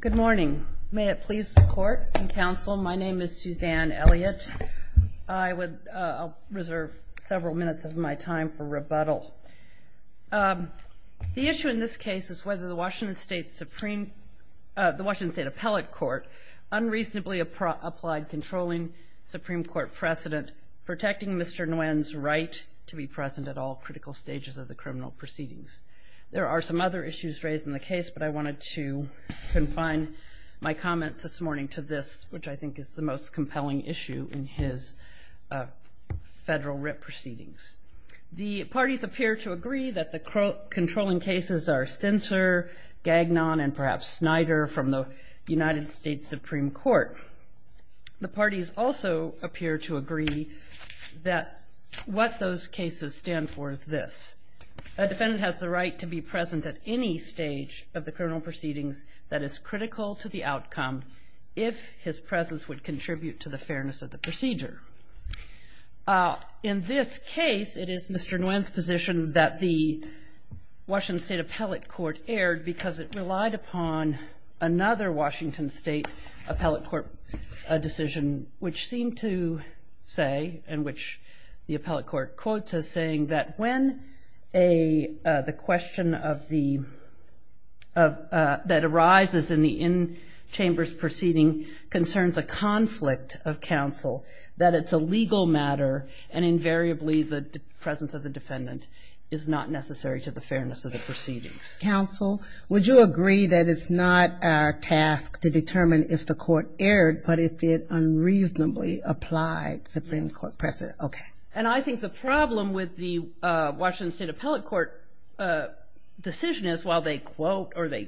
Good morning. May it please the Court and Council, my name is Suzanne Elliott. I will reserve several minutes of my time for rebuttal. The issue in this case is whether the Washington State Appellate Court unreasonably applied controlling Supreme Court precedent protecting Mr. Nguyen's right to be present at all critical stages of the criminal proceedings. There are some other issues raised in the case, but I wanted to confine my comments this morning to this, which I think is the most compelling issue in his federal writ proceedings. The parties appear to agree that the controlling cases are Stensler, Gagnon, and perhaps Snyder from the United States Supreme Court. The parties also appear to agree that what those cases stand for is this, a defendant has the right to be present at any stage of the criminal proceedings that is critical to the outcome if his presence would contribute to the fairness of the procedure. In this case, it is Mr. Nguyen's position that the Washington State Appellate Court erred because it relied upon another Washington State Appellate Court decision, which seemed to say, and which the Appellate Court quotes as saying that when the question that arises in the in-chamber's proceeding concerns a conflict of counsel, that it's a legal matter and invariably the presence of the defendant is not necessary to the fairness of the proceedings. Counsel, would you agree that it's not our task to determine if the court erred, but if it unreasonably applied Supreme Court precedent? Okay. And I think the problem with the Washington State Appellate Court decision is while they quote, or they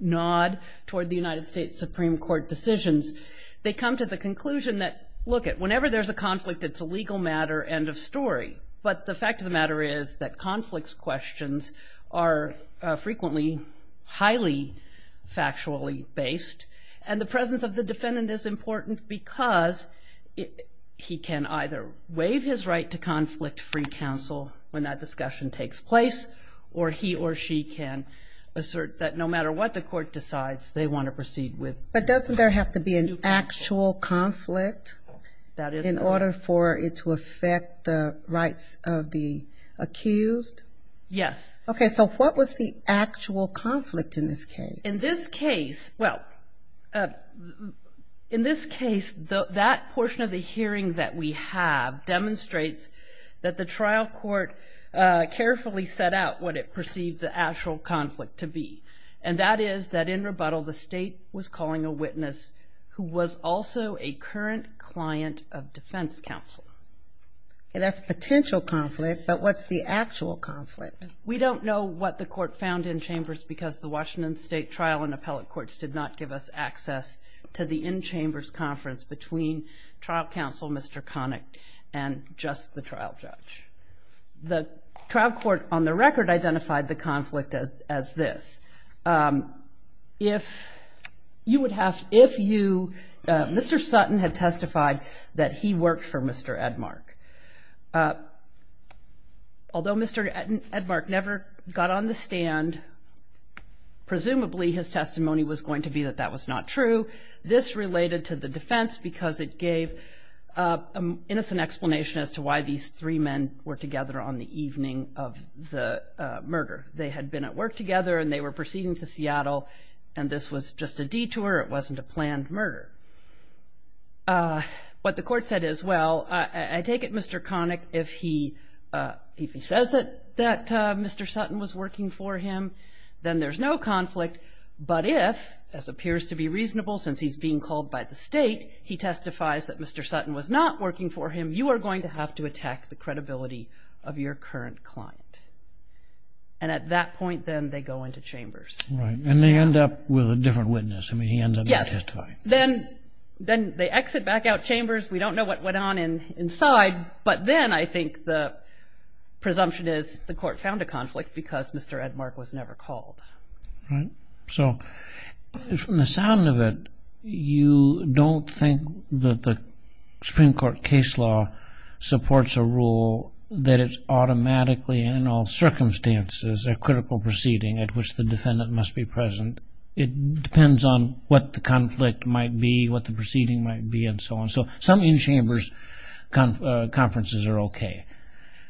nod toward the United States Supreme Court decisions, they come to the conclusion that, look it, whenever there's a conflict, it's a legal matter, end of story. But the fact of the matter is that conflicts questions are frequently highly factually based, and the presence of the defendant is either waive his right to conflict-free counsel when that discussion takes place, or he or she can assert that no matter what the court decides, they want to proceed with. But doesn't there have to be an actual conflict in order for it to affect the rights of the accused? Yes. Okay, so what was the actual conflict in this case? In this case, well, in this case, that portion of the hearing that we have demonstrates that the trial court carefully set out what it perceived the actual conflict to be. And that is that in rebuttal, the state was calling a witness who was also a current client of defense counsel. And that's potential conflict, but what's the actual conflict? We don't know what the court found in chambers because the Washington State Trial and Appellate Courts did not give us access to the in-chambers conference between trial counsel, Mr. Connick, and just the trial judge. The trial court, on the record, identified the conflict as this. If you would have, if you, Mr. Sutton had never got on the stand, presumably his testimony was going to be that that was not true. This related to the defense because it gave an innocent explanation as to why these three men were together on the evening of the murder. They had been at work together and they were proceeding to Seattle and this was just a detour. It wasn't a planned murder. What the court said is, well, I take it, Mr. Connick, if he says that Mr. Sutton was working for him, then there's no conflict. But if, as appears to be reasonable since he's being called by the state, he testifies that Mr. Sutton was not working for him, you are going to have to attack the credibility of your current client. And at that point, then they go into chambers. Right. And they end up with a different witness. I mean, he ends up not testifying. Then, then they exit back out chambers. We don't know what went on inside. But then I think the presumption is the court found a conflict because Mr. Edmark was never called. So from the sound of it, you don't think that the Supreme Court case law supports a rule that it's automatically in all might be, what the proceeding might be, and so on. So some in-chambers conferences are OK.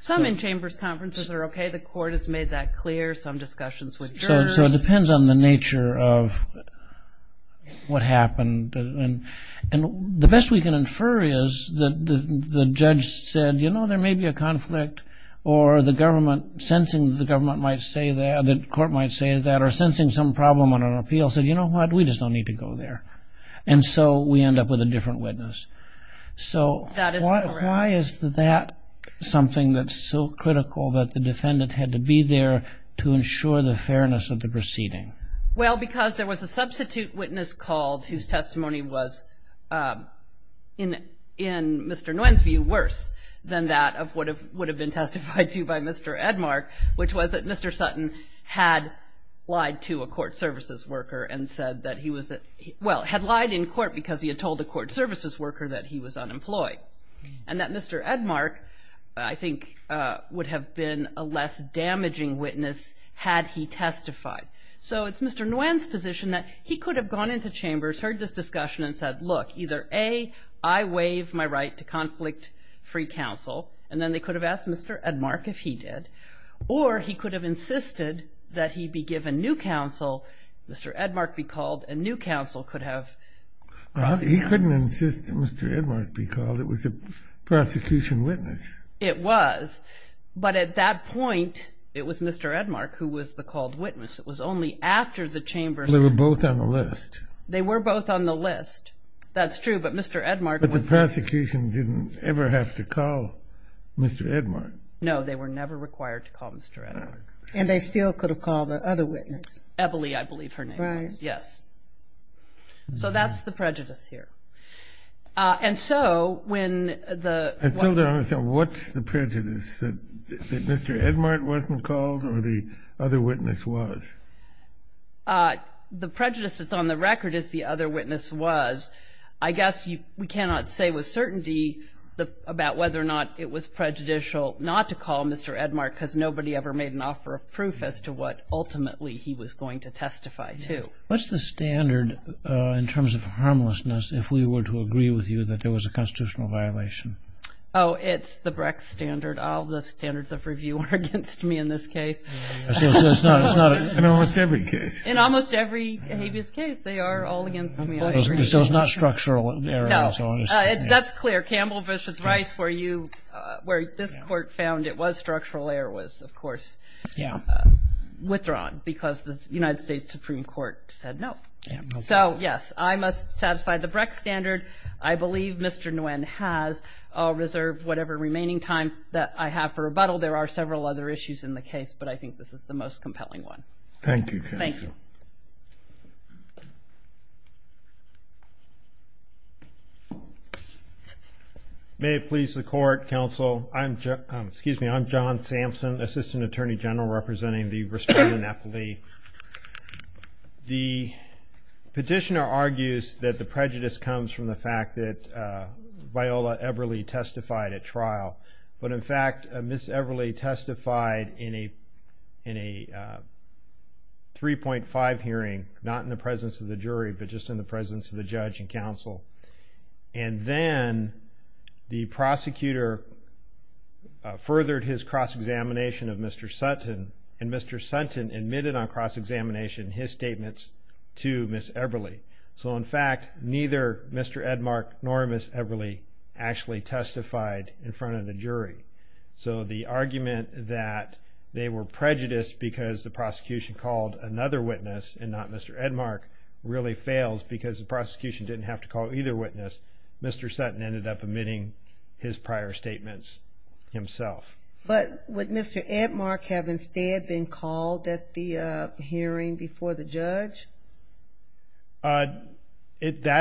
Some in-chambers conferences are OK. The court has made that clear. Some discussions with jurors. So it depends on the nature of what happened. And the best we can infer is that the judge said, you know, there may be a conflict or the government sensing the government might say that, the court might say that, or sensing some problem on an And so we end up with a different witness. So why is that something that's so critical that the defendant had to be there to ensure the fairness of the proceeding? Well, because there was a substitute witness called whose testimony was, in Mr. Nguyen's view, worse than that of what it would have been testified to by Mr. Edmark, which was that Mr. Sutton had lied to a court services worker and said that he was, well, had lied in court because he had told the court services worker that he was unemployed. And that Mr. Edmark, I think, would have been a less damaging witness had he testified. So it's Mr. Nguyen's position that he could have gone into chambers, heard this discussion and said, look, either A, I waive my right to conflict-free counsel, and then they could have asked Mr. Edmark if he did, or he could have insisted that he be called, and new counsel could have prosecuted him. He couldn't insist that Mr. Edmark be called. It was a prosecution witness. It was. But at that point, it was Mr. Edmark who was the called witness. It was only after the chambers... They were both on the list. They were both on the list. That's true, but Mr. Edmark was... But the prosecution didn't ever have to call Mr. Edmark. No, they were never required to call Mr. Edmark. And they still could have called the other witness. Ebilee, I believe her name was. Right. Yes. So that's the prejudice here. And so when the... I still don't understand. What's the prejudice, that Mr. Edmark wasn't called or the other witness was? The prejudice that's on the record is the other witness was. I guess we cannot say with certainty about whether or not it was prejudicial not to call Mr. Edmark because nobody ever made an offer of proof as to what ultimately he was going to testify to. What's the standard in terms of harmlessness if we were to agree with you that there was a constitutional violation? Oh, it's the Brex standard. All the standards of review are against me in this case. So it's not... In almost every case. In almost every habeas case, they are all against me. So it's not structural error. That's clear. Campbell v. Rice, where this court found it was structural error, was of course withdrawn because the United States Supreme Court said no. So yes, I must satisfy the Brex standard. I believe Mr. Nguyen has. I'll reserve whatever remaining time that I have for rebuttal. There are several other issues in the case, but I think this is the most compelling one. Thank you. Thank you. May it please the Court, Counsel. I'm John Sampson, Assistant Attorney General representing the Restorative Napoli. The petitioner argues that the prejudice comes from the fact that Viola Everly testified at trial. But in fact, Ms. Everly testified in a 3.5 hearing, not in the presence of the jury, but just in the presence of the judge and counsel. And then the prosecutor furthered his cross-examination of Mr. Sutton, and Mr. Sutton admitted on cross-examination his statements to Ms. Everly. So in fact, neither Mr. Edmark nor Ms. Everly actually testified in front of the jury. So the argument that they were prejudiced because the prosecution called another witness and not Mr. Edmark really fails because the prosecution didn't have to call either witness. Mr. Sutton ended up admitting his prior statements himself. But would Mr. Edmark have instead been called at the hearing before the judge? That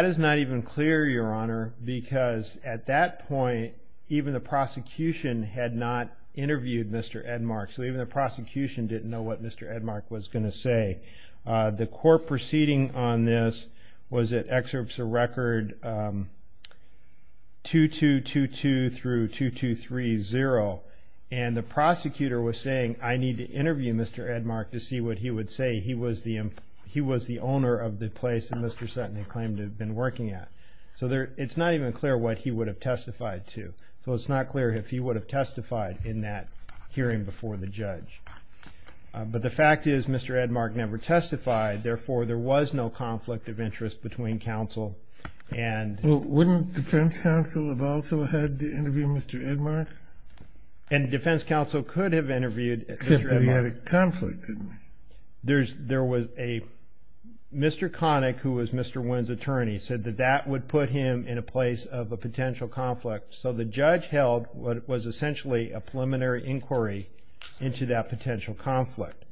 is not even clear, Your Honor, because at that point, even the prosecution had not interviewed Mr. Edmark. So even the prosecution didn't know what Mr. Edmark was going to say. The court proceeding on this was at Excerpts of Record 2222 through 2230, and the prosecutor was saying, I need to interview Mr. Edmark to see what he would say. He was the owner of the place that Mr. Sutton had claimed to have been working at. So it's not even clear what he would have testified to. So it's not clear if he would have testified in that hearing before the judge. But the fact is Mr. Edmark never testified. Therefore, there was no conflict of interest between counsel. And wouldn't the defense counsel have also had to interview Mr. Edmark? And the defense counsel could have interviewed Mr. Edmark. Except that he had a conflict, didn't he? There was a Mr. Connick, who was Mr. Wynn's attorney, said that that would put him in a place of a potential conflict. So the judge held what was essentially a preliminary inquiry into that potential conflict.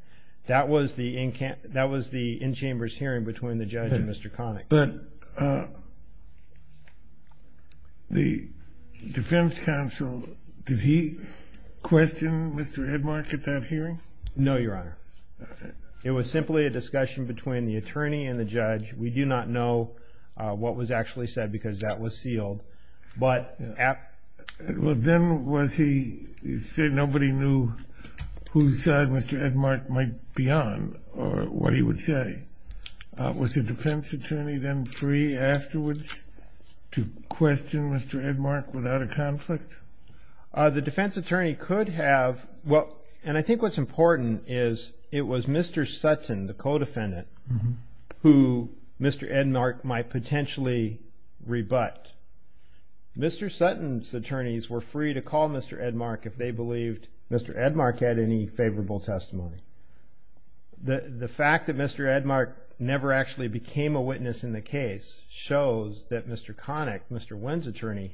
That was the in-chambers hearing between the judge and Mr. Connick. But the defense counsel, did he question Mr. Edmark at that hearing? No, Your Honor. It was simply a discussion between the attorney and the judge. We do not know what was actually said because that was sealed. Well, then was he saying nobody knew whose side Mr. Edmark might be on or what he would say? Was the defense attorney then free afterwards to question Mr. Edmark without a conflict? The defense attorney could have. Well, and I think what's important is it was Mr. Sutton, the co-defendant, who Mr. Edmark might potentially rebut. Mr. Sutton's attorneys were free to call Mr. Edmark if they believed Mr. Edmark had any favorable testimony. The fact that Mr. Edmark never actually became a witness in the case shows that Mr. Connick, Mr. Wynn's attorney,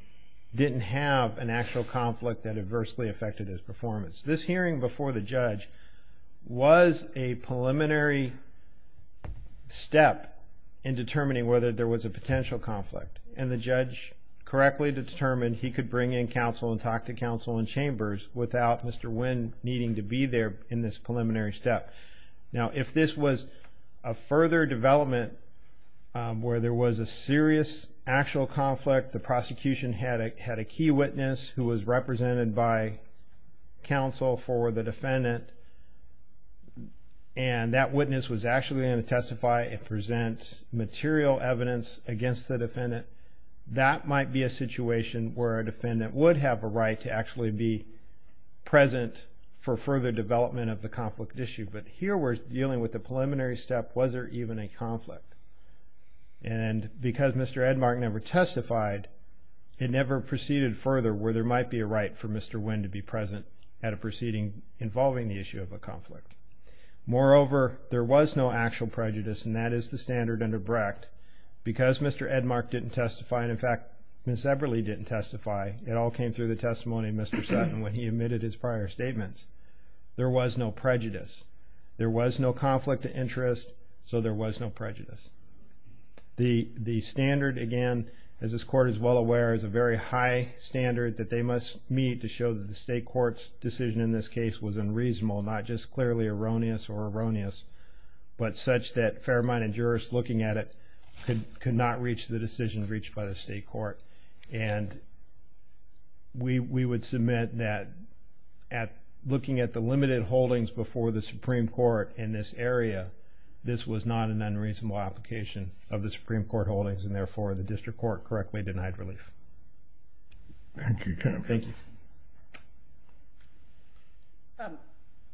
didn't have an actual conflict that adversely affected his performance. This hearing before the judge was a preliminary step in determining whether there was a potential conflict. And the judge correctly determined he could bring in counsel and talk to counsel in chambers without Mr. Wynn needing to be there in this preliminary step. Now, if this was a further development where there was a serious actual conflict, the prosecution had a key witness who was represented by counsel for the defendant, and that witness was actually going to testify and present material evidence against the defendant, that might be a situation where a defendant would have a right to actually be present for further development of the conflict issue. But here we're dealing with the preliminary step. Was there even a conflict? And because Mr. Edmark never testified, it never proceeded further where there might be a right for Mr. Wynn to be present at a proceeding involving the issue of a conflict. Moreover, there was no actual prejudice, and that is the standard under Brecht. Because Mr. Edmark didn't testify, and in fact, Ms. Eberle didn't testify, it all came through the testimony of Mr. Sutton when he admitted his prior statements. There was no prejudice. There was no conflict of interest, so there was no prejudice. The standard, again, as this court is well aware, is a very high standard that they must meet to show that the state court's decision in this case was unreasonable, not just clearly erroneous or erroneous, but such that fair-minded jurists looking at it could not reach the decision reached by the state court. And we would submit that looking at the limited holdings before the Supreme Court in this area, this was not an unreasonable application of the Supreme Court holdings, and therefore the district court correctly denied relief. Thank you, counsel. Thank you.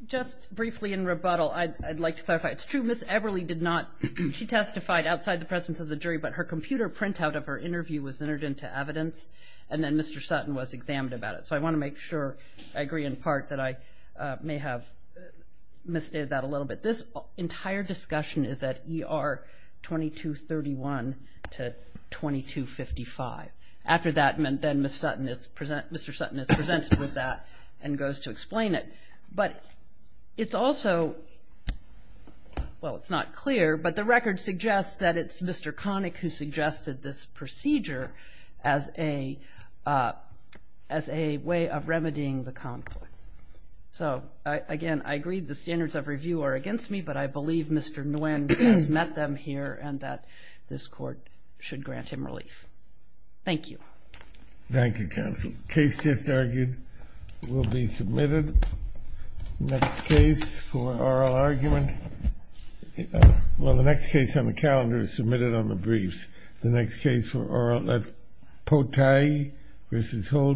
Just briefly in rebuttal, I'd like to clarify. It's true Ms. Eberle did not, she testified outside the presence of the jury, but her computer printout of her interview was entered into evidence, and then Mr. Sutton was examined about it. So I want to make sure I agree in part that I may have misstated that a little bit. This entire discussion is at ER 2231 to 2255. After that, then Mr. Sutton is presented with that and goes to explain it. But it's also, well, it's not clear, but the record suggests that it's Mr. Connick who suggested this procedure as a way of remedying the conflict. So, again, I agree the standards of review are against me, but I believe Mr. Nguyen has met them here and that this court should grant him relief. Thank you. Thank you, counsel. The case just argued will be submitted. Next case for oral argument. Well, the next case on the calendar is submitted on the briefs. The next case for oral, Potei v. Holder.